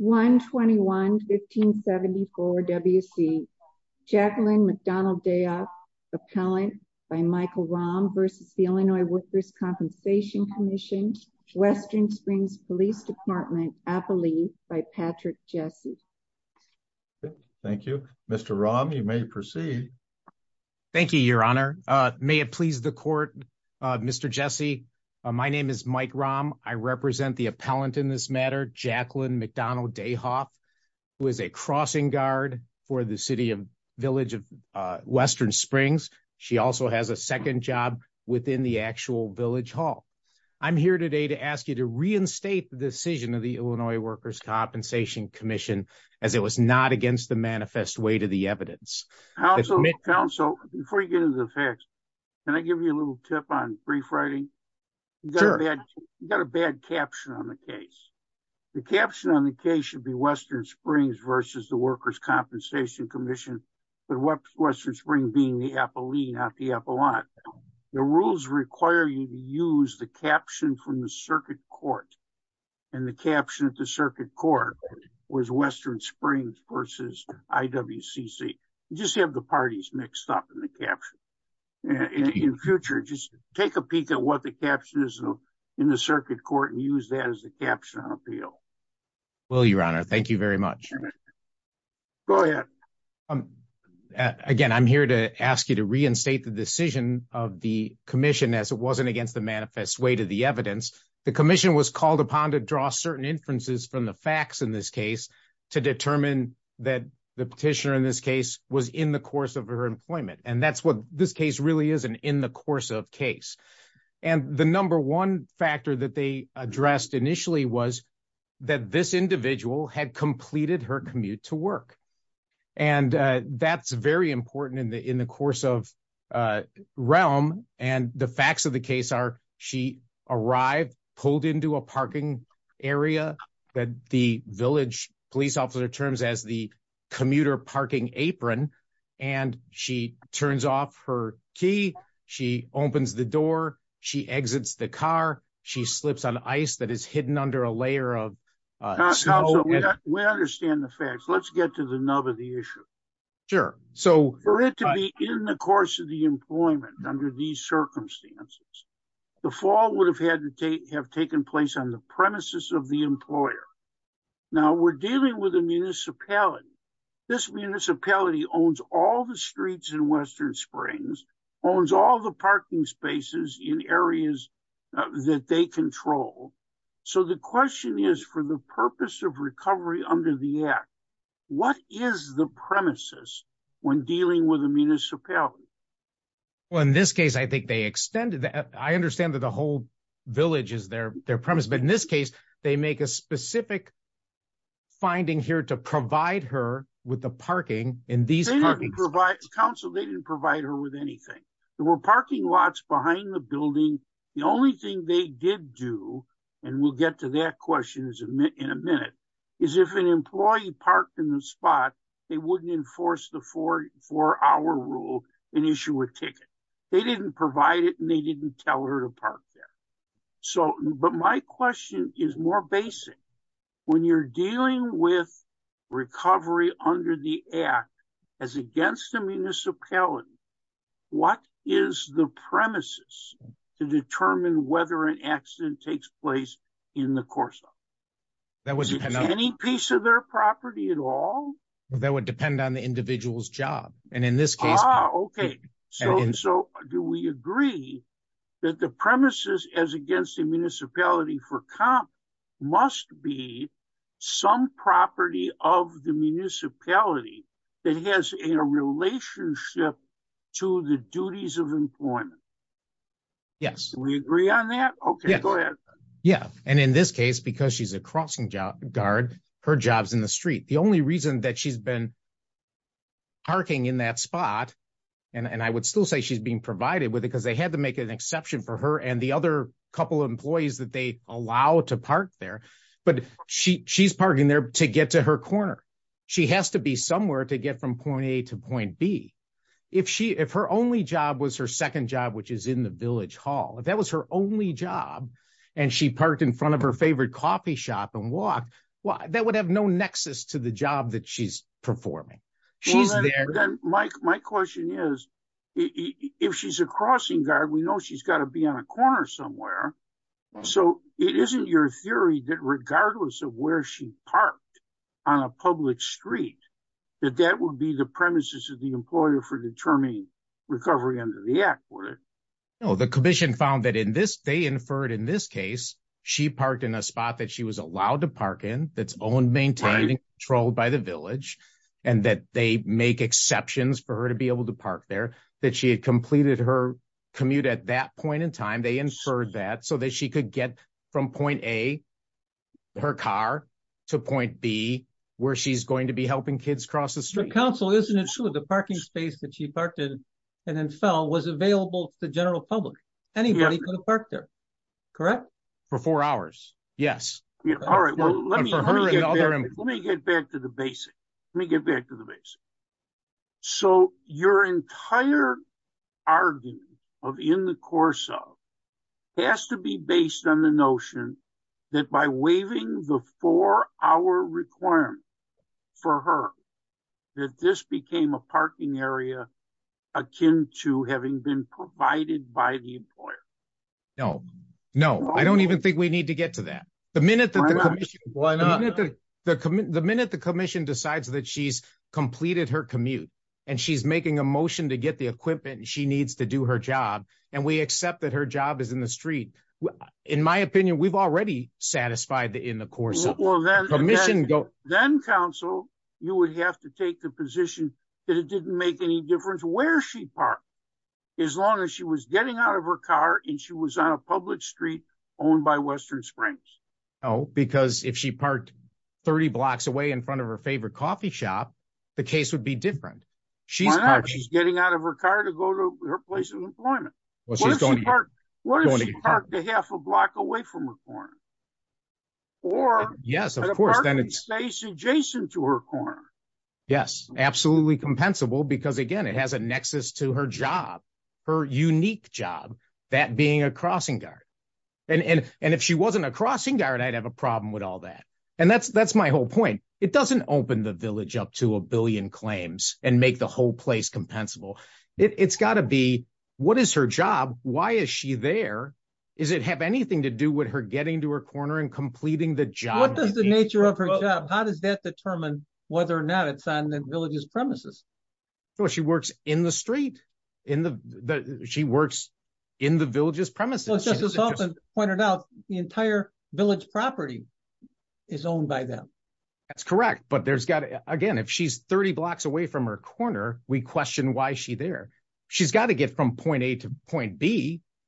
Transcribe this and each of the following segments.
121-1574 W.C. Jacqueline Macdonnell-Dayhoff, Appellant by Michael Rahm v. Illinois Workers' Compensation Comm'n, Western Springs Police Department, Appalachia, by Patrick Jesse. Thank you. Mr. Rahm, you may proceed. Thank you, Your Honor. May it please the Court, Mr. Jesse, my name is Mike Rahm. I represent the appellant in this matter, Jacqueline Macdonnell-Dayhoff, who is a crossing guard for the City of, Village of Western Springs. She also has a second job within the actual Village Hall. I'm here today to ask you to reinstate the decision of the Illinois Workers' Compensation Commission as it was not against the manifest weight of the evidence. Counsel, before you get into the facts, can I give you a little tip on brief writing? You've got a bad caption on the case. The caption on the case should be Western Springs versus the Workers' Compensation Commission, but Western Springs being the appellee, not the appellant. The rules require you to use the caption from the circuit court, and the caption at the circuit court was Western Springs versus IWCC. You just have the parties mixed up in the caption. In the future, just take a peek at what the caption is in the circuit court and use that as the caption on appeal. Will do, Your Honor. Thank you very much. Go ahead. Again, I'm here to ask you to reinstate the decision of the commission as it wasn't against the manifest weight of the evidence. The commission was called upon to draw certain inferences from the facts in this case to determine that the petitioner in this case was in the course of her employment. That's what this case really is, an in-the-course-of case. The number one factor that they addressed initially was that this individual had completed her commute to work. That's very obvious. She arrived, pulled into a parking area that the village police officer terms as the commuter parking apron, and she turns off her key. She opens the door. She exits the car. She slips on ice that is hidden under a layer of snow. We understand the facts. Let's get to the nub of the issue. Sure. For it to be in the course of the employment under these circumstances, the fall would have had to have taken place on the premises of the employer. Now, we're dealing with a municipality. This municipality owns all the streets in Western Springs, owns all the parking spaces in areas that they control. So the question is, for the purpose of recovery under the act, what is the premises when dealing with a municipality? Well, in this case, I understand that the whole village is their premise, but in this case, they make a specific finding here to provide her with the parking in these parking lots. Counsel, they didn't provide her with anything. There were parking lots behind the building. The only thing they did do, and we'll get to that question in a minute, is if an employee parked in the spot, they wouldn't enforce the four-hour rule and issue a ticket. They didn't provide it, and they didn't tell her to park there. But my question is more basic. When you're dealing with recovery under the act as against the municipality, what is the premises to determine whether an accident takes place in the course of it? Is it any piece of their property at all? That would depend on the individual's job. So do we agree that the premises as against the municipality for comp must be some property of the municipality that has a relationship to the duties of employment? Yes. We agree on that? Okay, go ahead. Yeah, and in this case, because she's a crossing guard, her job's in the street. The only reason that she's been parking in that spot, and I would still say she's being provided with it because they had to make an exception for her and the other couple of employees that they allow to park there, but she's parking there to get to her corner. She has to be somewhere to get from point A to point B. If her only job was her second job, which is in the village hall, if that was her only job and she parked in front of her favorite coffee shop and walked, well, that would have no nexus to the job that she's performing. My question is, if she's a crossing guard, we know she's got to be on a corner somewhere. So it isn't your theory that regardless of where she parked on a public street, that that would be the premises of the employer for determining recovery under the act for it? No, the commission found that they inferred in this case, she parked in a spot that she was allowed to park in, that's owned, maintained, and controlled by the village, and that they make exceptions for her to be able to park there, that she had completed her commute at that point in time. They inferred that so that she could get from point A, her car, to point B, where she's going to be helping kids cross the street. But counsel, isn't it true the parking space that she parked in and then fell was available to the general public? Anybody could have parked there, correct? For four hours, yes. All right, well, let me get back to the basic. Let me get back to the basic. So your entire argument of in the course of has to be parking area akin to having been provided by the employer? No, no, I don't even think we need to get to that. The minute that the commission decides that she's completed her commute, and she's making a motion to get the equipment, and she needs to do her job, and we accept that her job is in the street, in my opinion, we've already satisfied the in the course of that then counsel, you would have to take the position that it didn't make any difference where she parked as long as she was getting out of her car, and she was on a public street owned by Western Springs. Oh, because if she parked 30 blocks away in front of her favorite coffee shop, the case would be different. She's getting out of her car to go to her place of employment. What if she parked a half a block away from her car? Or yes, of course, then it's adjacent to her car. Yes, absolutely compensable, because again, it has a nexus to her job, her unique job, that being a crossing guard. And if she wasn't a crossing guard, I'd have a problem with all that. And that's my whole point. It doesn't open the village up to a billion claims and make the whole place compensable. It's got to be what is her job? Why is she there? Is it have anything to do with her getting to her corner and completing the job? What is the nature of her job? How does that determine whether or not it's on the village's premises? So she works in the street in the she works in the village's premises, pointed out the entire village property is owned by them. That's correct. But there's got to again, if she's 30 point B,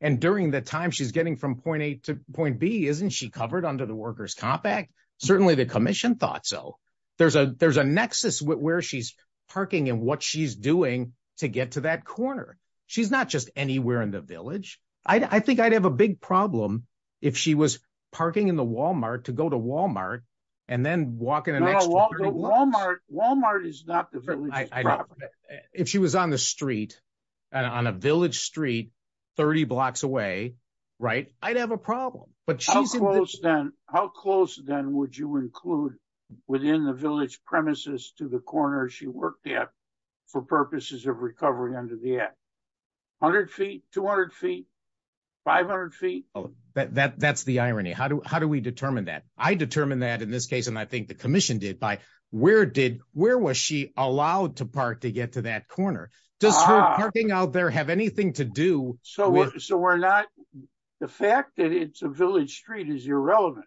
and during the time she's getting from point A to point B, isn't she covered under the workers compact? Certainly the commission thought so. There's a there's a nexus with where she's parking and what she's doing to get to that corner. She's not just anywhere in the village. I think I'd have a big problem if she was parking in the Walmart to go to Walmart, and then walk Walmart. Walmart is not the village. If she was on the street, and on a village street, 30 blocks away, right, I'd have a problem. But how close then how close then would you include within the village premises to the corner she worked at, for purposes of recovery under the act? 100 feet, 200 feet? 500 feet? That that's the irony. How do how do we determine that? I where did where was she allowed to park to get to that corner? Does her parking out there have anything to do? So we're not the fact that it's a village street is irrelevant.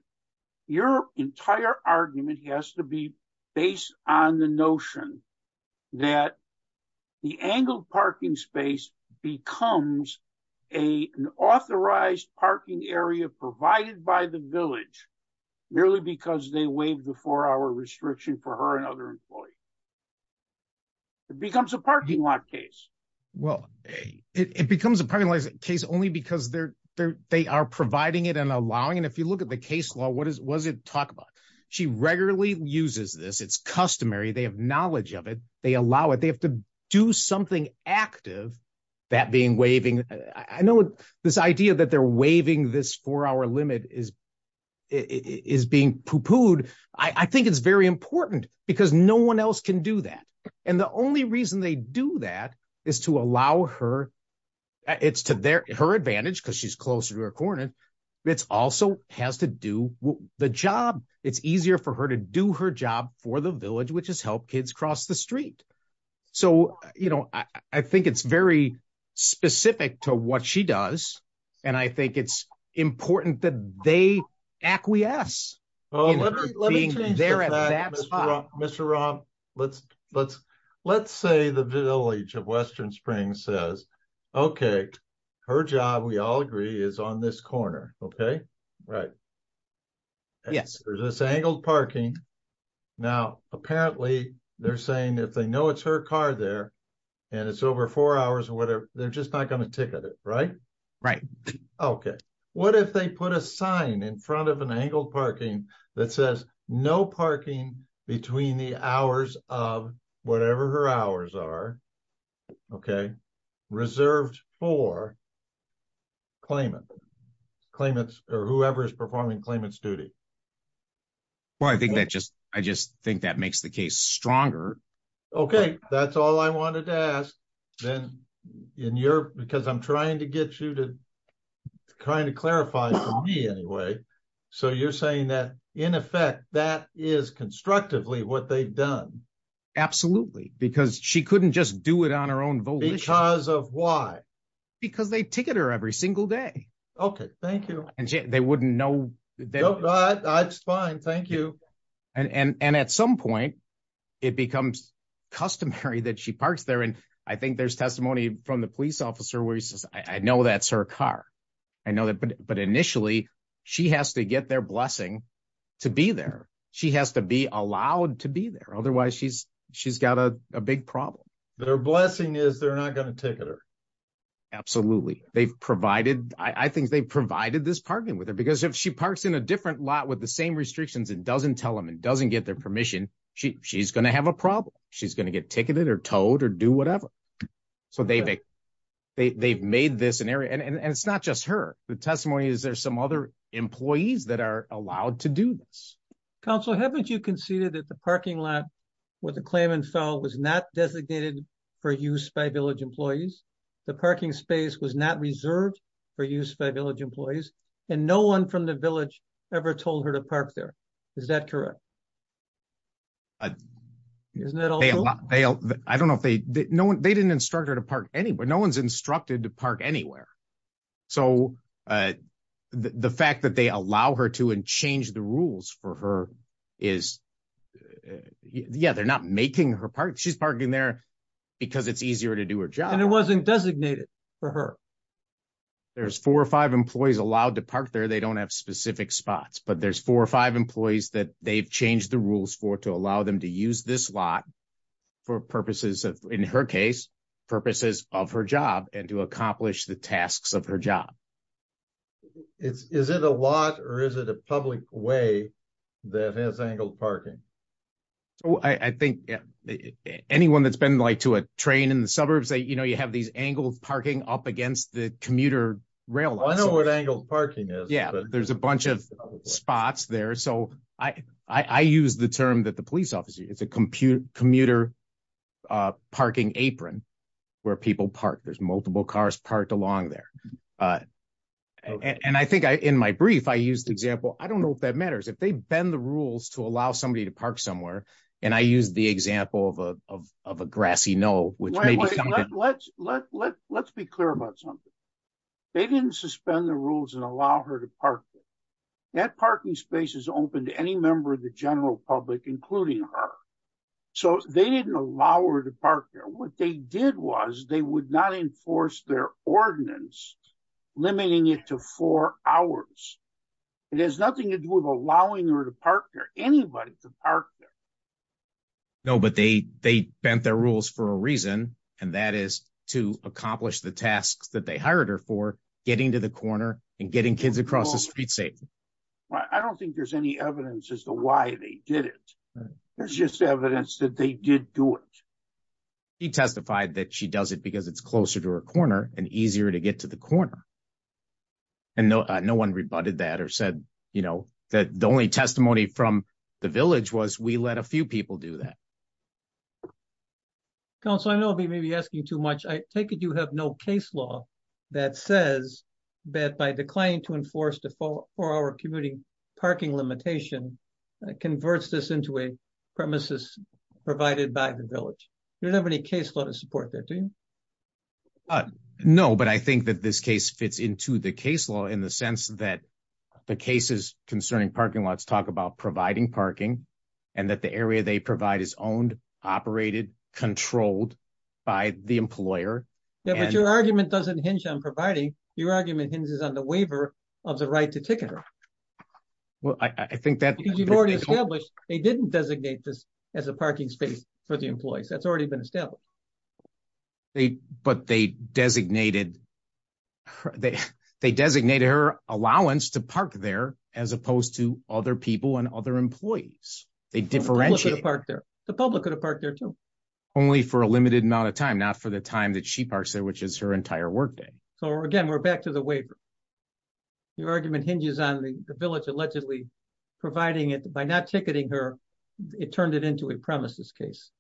Your entire argument has to be based on the notion that the angled parking space becomes a an authorized parking area provided by the village, merely because they waive the four hour restriction for her and other employees. It becomes a parking lot case. Well, it becomes a parking lot case only because they're there. They are providing it and allowing and if you look at the case law, what is was it talk about? She regularly uses this. It's customary. They have knowledge of it. They allow it they have to do something active. That being waving. I know this idea that they're waiving this four hour limit is is being poo pooed. I think it's very important because no one else can do that. And the only reason they do that is to allow her. It's to their her advantage because she's closer to her corner. It's also has to do the job. It's easier for her to do her job for the village, which is help kids cross the street. So, you know, I think it's very specific to what she does and I think it's important that they acquiesce. Mr. Rob, let's let's let's say the village of Western Springs says, okay, her job, we all agree is on this corner. Okay. Right. Yes, there's this angled parking. Now, apparently, they're saying if they know it's her car there and it's over four hours or whatever, they're just not going to ticket it. Right. Right. Okay. What if they put a sign in front of an angled parking that says no parking between the hours of whatever her hours are? Okay. Reserved for claimant, claimants or whoever is performing claimant's duty. Well, I think that just I just think that makes the case stronger. Okay. That's all I wanted to ask then in your because I'm trying to get you to kind of clarify for me anyway. So, you're saying that in effect that is constructively what they've done. Absolutely. Because she couldn't just do it on her own. Because of why? Because they ticket her every single day. Okay. Thank you. And they wouldn't know. That's fine. Thank you. And at some point, it becomes customary that she parks there. And I think there's testimony from the police officer where he says, I know that's her car. I know that but initially, she has to get their blessing to be there. She has to be allowed to be there. Otherwise, she's she's got a big problem. Their blessing is they're not going to with her. Because if she parks in a different lot with the same restrictions and doesn't tell them and doesn't get their permission, she she's going to have a problem. She's going to get ticketed or towed or do whatever. So, they they've made this an area and it's not just her. The testimony is there's some other employees that are allowed to do this. Counselor, haven't you conceded that the parking lot where the claimant fell was not designated for use by village and no one from the village ever told her to park there. Is that correct? I don't know if they know they didn't instruct her to park anywhere. No one's instructed to park anywhere. So, the fact that they allow her to and change the rules for her is yeah, they're not making her park. She's parking there because it's easier to do her job. It wasn't designated for her. There's four or five employees allowed to park there. They don't have specific spots but there's four or five employees that they've changed the rules for to allow them to use this lot for purposes of, in her case, purposes of her job and to accomplish the tasks of her job. Is it a lot or is it a public way that has angled parking? I think anyone that's been to a train in the suburbs, you have these angled parking up against the commuter rail. I know what angled parking is. Yeah, there's a bunch of spots there. So, I use the term that the police officer, it's a commuter parking apron where people park. There's multiple cars parked along there. And I think in my brief, I used the example. I don't know if that matters. If they bend the rules to allow somebody to park somewhere and I use the example of a grassy knoll. Let's be clear about something. They didn't suspend the rules and allow her to park there. That parking space is open to any member of the general public, including her. So, they didn't allow her to park there. What they did was they would not enforce their ordinance limiting it to four hours. It has nothing to do with allowing her to park there, anybody to park there. No, but they bent their rules for a reason and that is to accomplish the tasks that they hired her for getting to the corner and getting kids across the street safely. I don't think there's any evidence as to why they did it. There's just evidence that they did do it. He testified that she does it because it's closer to her corner and easier to get to the corner. And no one rebutted that or said, you know, that the only testimony from the village was we let a few people do that. Council, I know we may be asking too much. I take it you have no case law that says that by declining to enforce the four-hour commuting parking limitation, converts this into a premises provided by the village. You don't have any case law to support that, do you? No, but I think that this case fits into the case law in the sense that the cases concerning parking lots talk about providing parking and that the area they provide is owned, operated, controlled by the employer. Yeah, but your argument doesn't hinge on providing. Your argument hinges on the waiver of the right to ticket her. Well, I think that you've already established they didn't designate this as a parking space for the employees. That's already been established. But they designated her allowance to park there as opposed to other people and other employees. They differentiate. The public could have parked there too. Only for a limited amount of time, not for the time that she parks there, which is her entire workday. So, again, we're back to the waiver. Your argument hinges on the village allegedly providing it by not ticketing her. It turned it into a premises case.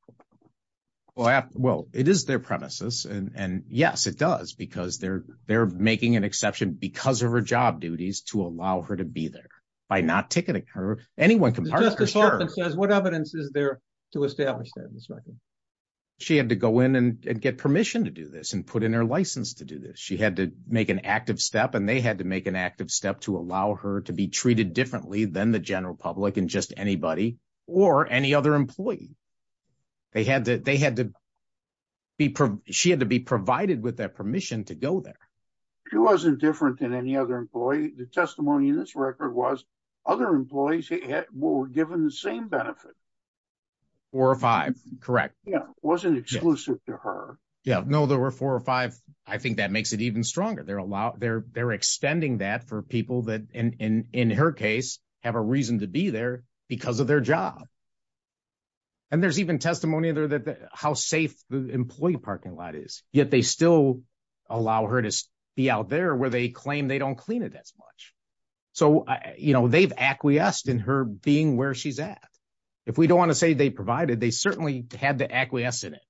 Well, it is their premises and yes, it does because they're making an exception because of her job duties to allow her to be there. By not ticketing her, anyone can park there. The Justice Department says what evidence is there to establish that in this record? She had to go in and get permission to do this and put in her license to do this. She had to make an active step and they had to make an active step to allow her to be treated differently than the general public and just anybody or any other employee. She had to be provided with that permission to go there. She wasn't different than any other employee. The testimony in this record was other employees were given the same benefit. Four or five, correct. Yeah, it wasn't exclusive to her. Yeah, no, there were four or five. I think that makes it even stronger. They're extending that for people that, in her case, have a reason to be there because of their job. And there's even testimony there that how safe the employee parking lot is, yet they still allow her to be out there where they claim they don't clean it as much. So, you know, they've acquiesced in her being where she's at. If we don't want to say they provided, they certainly had to acquiesce in it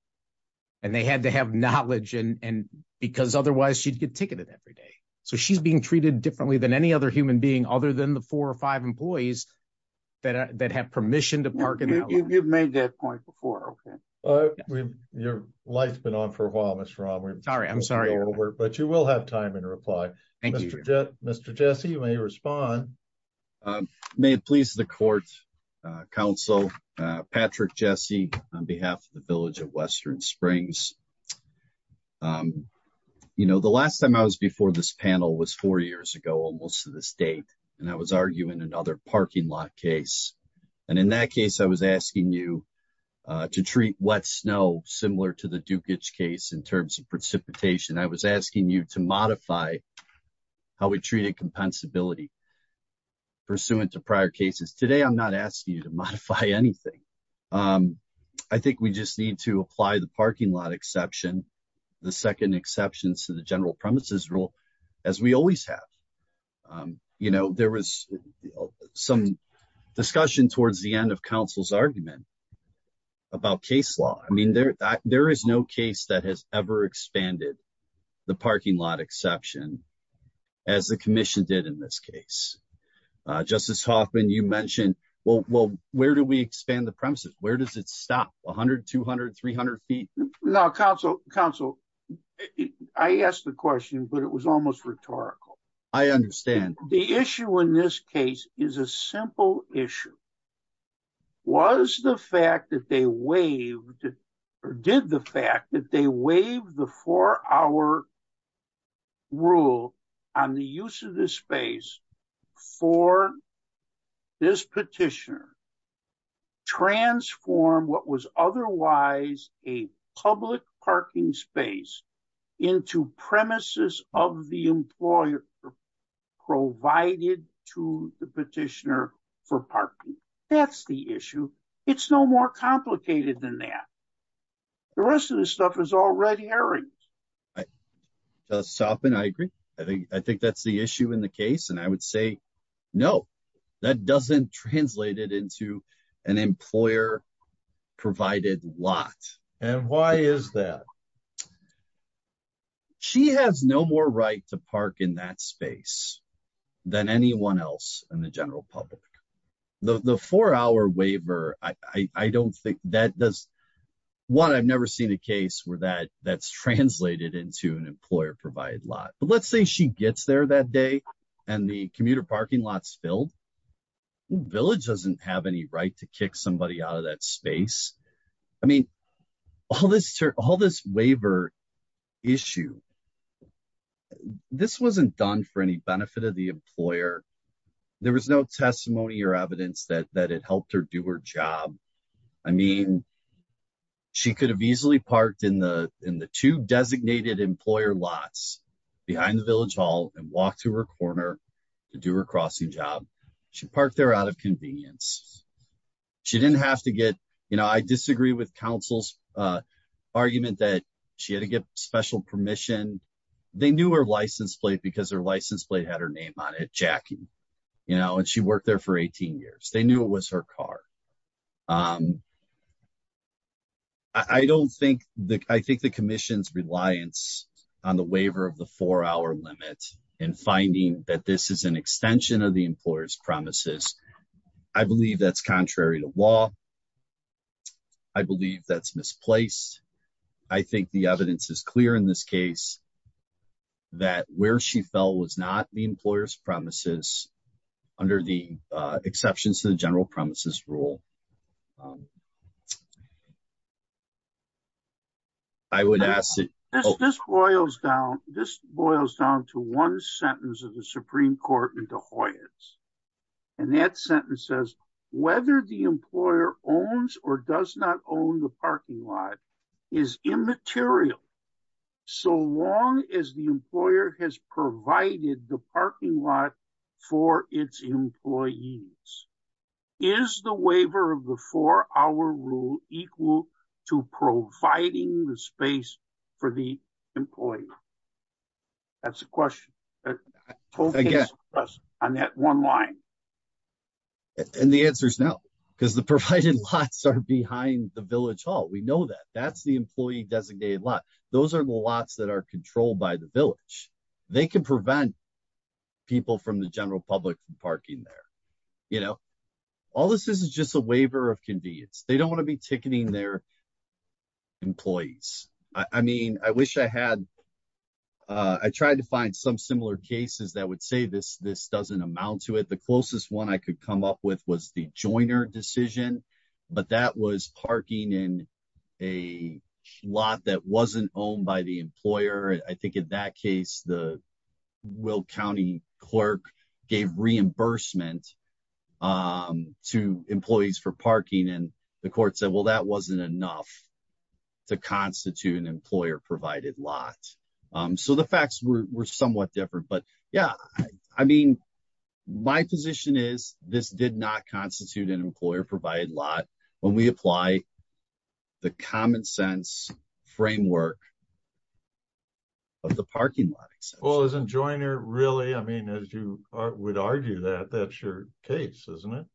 and they had to have knowledge because otherwise she'd get ticketed every day. So she's being treated differently than any other human being other than the four or five employees that have permission to park in that way. You've made that point before, okay. Your light's been on for a while, Mr. Romer. Sorry, I'm sorry. But you will have time in reply. Thank you. Mr. Jesse, you may respond. May it please the court, counsel, Patrick Jesse, on behalf of the Village of Western Springs. You know, the last time I was before this panel was four years ago, almost to this date. And I was arguing another parking lot case. And in that case, I was asking you to treat wet snow similar to the Dukic case in terms of precipitation. I was asking you to modify how we treated compensability. Pursuant to prior cases today, I'm not asking you to modify anything. I think we just need to apply the parking lot exception, the second exceptions to the general premises rule, as we always have. You know, there was some discussion towards the end of counsel's argument about case law. I mean, there is no case that has ever expanded the parking lot exception as the commission did in this case. Justice Hoffman, you mentioned, well, where do we expand the premises? Where does it stop? 100, 200, 300 feet? Counsel, I asked the question, but it was almost rhetorical. I understand. The issue in this case is a simple issue. Was the fact that they waived or did the fact that they waived the four hour rule on the use of this space for this petitioner transform what was otherwise a public parking space into premises of the employer provided to the petitioner for parking? That's the issue. It's no more complicated than that. The rest of this stuff is all red herrings. Justice Hoffman, I agree. I think that's the issue in the case. And I would say, no, that doesn't translate it into an employer provided lot. And why is that? She has no more right to park in that space than anyone else in the general public. The four hour waiver, I don't think that does. One, I've never seen a case where that's translated into an employer provided lot. But let's say she gets there that day and the commuter parking lot's filled. Village doesn't have any right to kick somebody out of that space. I mean, all this waiver issue, this wasn't done for any benefit of the employer. There was no testimony or evidence that it helped her do her job. I mean, she could have easily parked in the two designated employer lots behind the Village Hall and walk to her corner to do her crossing job. She parked there out of convenience. She didn't have to get, I disagree with counsel's argument that she had to get special permission. They knew her license plate because her license plate had her name on it, Jackie. And she worked there for 18 years. They knew it was her car. I don't think the, I think the commission's reliance on the waiver of the four hour limit and finding that this is an extension of the employer's promises. I believe that's contrary to law. I believe that's misplaced. I think the evidence is clear in this case that where she fell was not the employer's promises, under the exceptions to the general promises rule. I would ask that- This boils down to one sentence of the Supreme Court in the Hoyas. And that sentence says, whether the employer owns or does not own the parking lot is immaterial. So long as the employer has provided the parking lot for its employees, is the waiver of the four hour rule equal to providing the space for the employee? That's the question. On that one line. And the answer is no, because the provided lots are behind the Village Hall. We know that. That's the employee designated lot. Those are the lots that are controlled by the Village. They can prevent people from the general public from parking there. You know, all this is is just a waiver of convenience. They don't want to be ticketing their employees. I mean, I wish I had, I tried to find some similar cases that would say this, this doesn't amount to it. The closest one I could come up with was the Joiner decision. But that was parking in a lot that wasn't owned by the employer. I think in that case, the Will County clerk gave reimbursement to employees for parking. And the court said, well, that wasn't enough to constitute an employer provided lot. So the facts were somewhat different. Yeah, I mean, my position is this did not constitute an employer provided lot when we apply the common sense framework of the parking lot. Well, isn't Joiner really? I mean, as you would argue that that's your case, isn't it?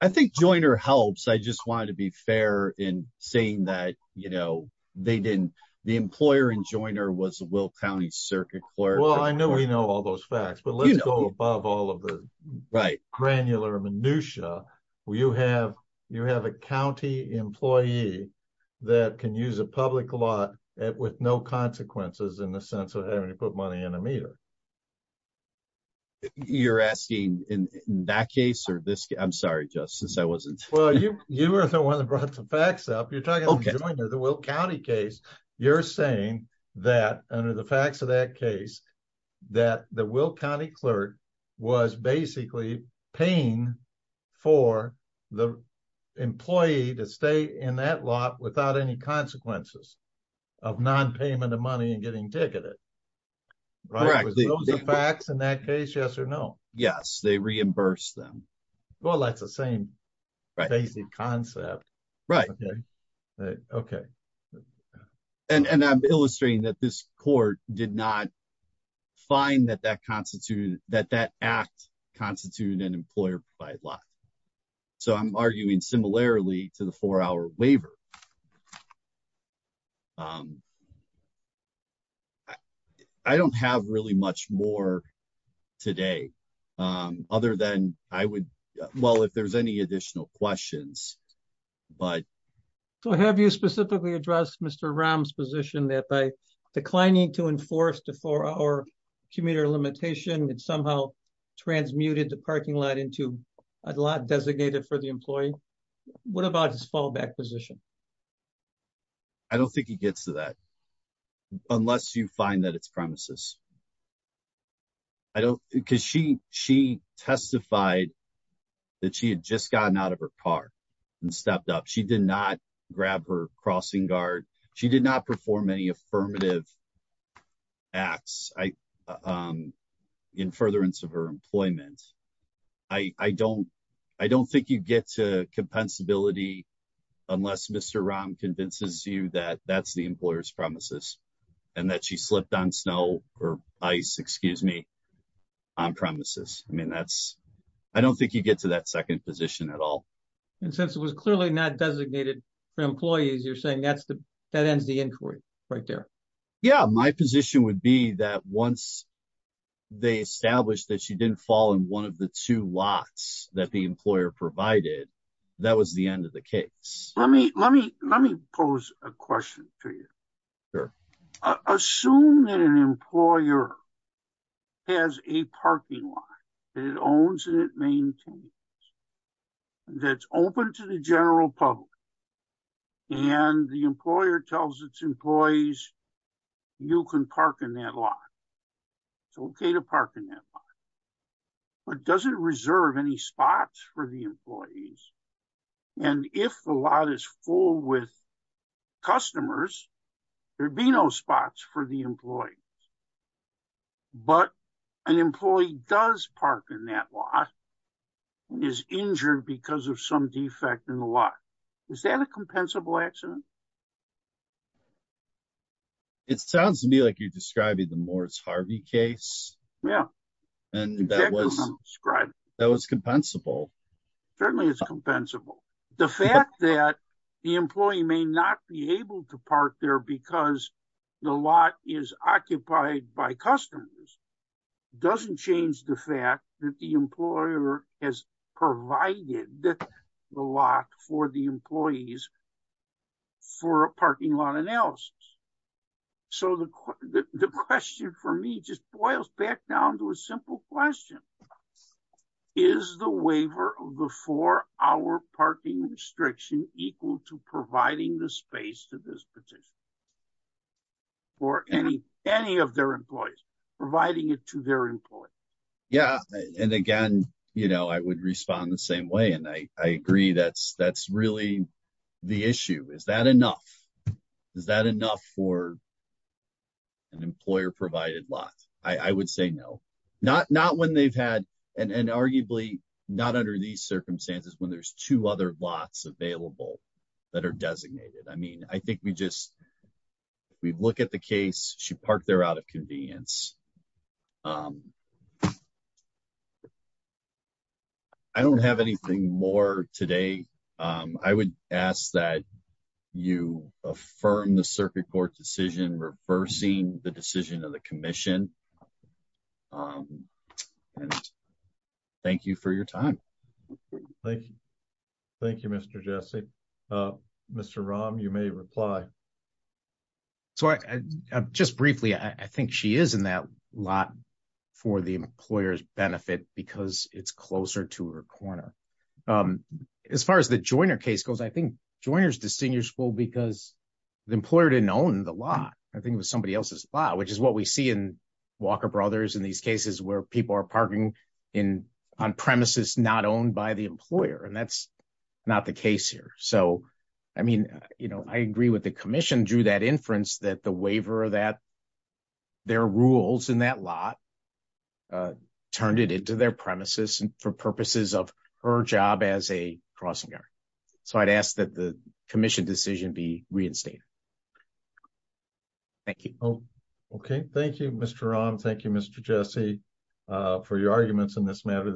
I think Joiner helps. I just wanted to be fair in saying that, you know, they didn't, the employer in Joiner was the Will County circuit clerk. Well, I know we know all those facts, but let's go above all of the granular minutia. You have a county employee that can use a public lot with no consequences in the sense of having to put money in a meter. You're asking in that case or this? I'm sorry, Justice, I wasn't. Well, you were the one that brought the facts up. You're talking about the Joiner, the Will County case. You're saying that under the facts of that case, that the Will County clerk was basically paying for the employee to stay in that lot without any consequences of non-payment of money and getting ticketed. Right. Those are facts in that case, yes or no? Yes, they reimbursed them. Well, that's the same basic concept. Right. Okay. And I'm illustrating that this court did not find that that constituted, that that act constituted an employer-provided lot. So I'm arguing similarly to the four-hour waiver. I don't have really much more today other than I would, well, if there's any additional questions, but. So have you specifically addressed Mr. Ram's position that by declining to enforce the four-hour commuter limitation, it somehow transmuted the parking lot into a lot designated for the employee? What about his fallback position? I don't think he gets to that unless you find that it's premises. I don't, because she testified that she had just gotten out of her car and stepped up. She did not grab her crossing guard. She did not perform any affirmative acts in furtherance of her employment. I don't think you get to compensability unless Mr. Ram convinces you that that's the employer's premises and that she slipped on snow or ice, excuse me, on premises. I mean, that's, I don't think you get to that second position at all. And since it was clearly not designated for employees, you're saying that's the, that ends the inquiry right there. Yeah. My position would be that once they established that she didn't fall in one of the two lots that the employer provided, that was the end of the case. Let me pose a question for you. Assume that an employer has a parking lot that it owns and it maintains, that's open to the general public, and the employer tells its employees, you can park in that lot. It's okay to park in that lot. And if the lot is full with customers, there'd be no spots for the employees. But an employee does park in that lot and is injured because of some defect in the lot. Is that a compensable accident? It sounds to me like you're describing the Morris Harvey case. Yeah, exactly what I'm describing. That was compensable. Certainly it's compensable. The fact that the employee may not be able to park there because the lot is occupied by customers doesn't change the fact that the employer has provided the lot for the employees for a parking lot analysis. So the question for me just boils back down to a simple question. Is the waiver of the four-hour parking restriction equal to providing the space to this petition? For any of their employees, providing it to their employees. Yeah, and again, I would respond the same way and I agree that's really the issue. Is that enough? Is that enough for an employer-provided lot? I would say no. Not when they've had, and arguably not under these circumstances, when there's two other lots available that are designated. I mean, I think we just, we look at the case, she parked there out of convenience. I don't have anything more today. I would ask that you affirm the circuit court decision reversing the decision of the commission. And thank you for your time. Thank you. Thank you, Mr. Jesse. Mr. Rahm, you may reply. So just briefly, I think she is in that lot for the employer's benefit because it's closer to her corner. As far as the Joyner case goes, I think Joyner's distinguishable because the employer didn't own the lot. I think it was somebody else's lot, which is what we see in these cases where people are parking on premises not owned by the employer. And that's not the case here. So, I mean, I agree with the commission due to that inference that the waiver of that, their rules in that lot turned it into their premises for purposes of her job as a crossing guard. So I'd ask that the commission decision be reinstated. Thank you. Okay. Thank you, Mr. Rahm. Thank you, Mr. Jesse, for your arguments in this matter.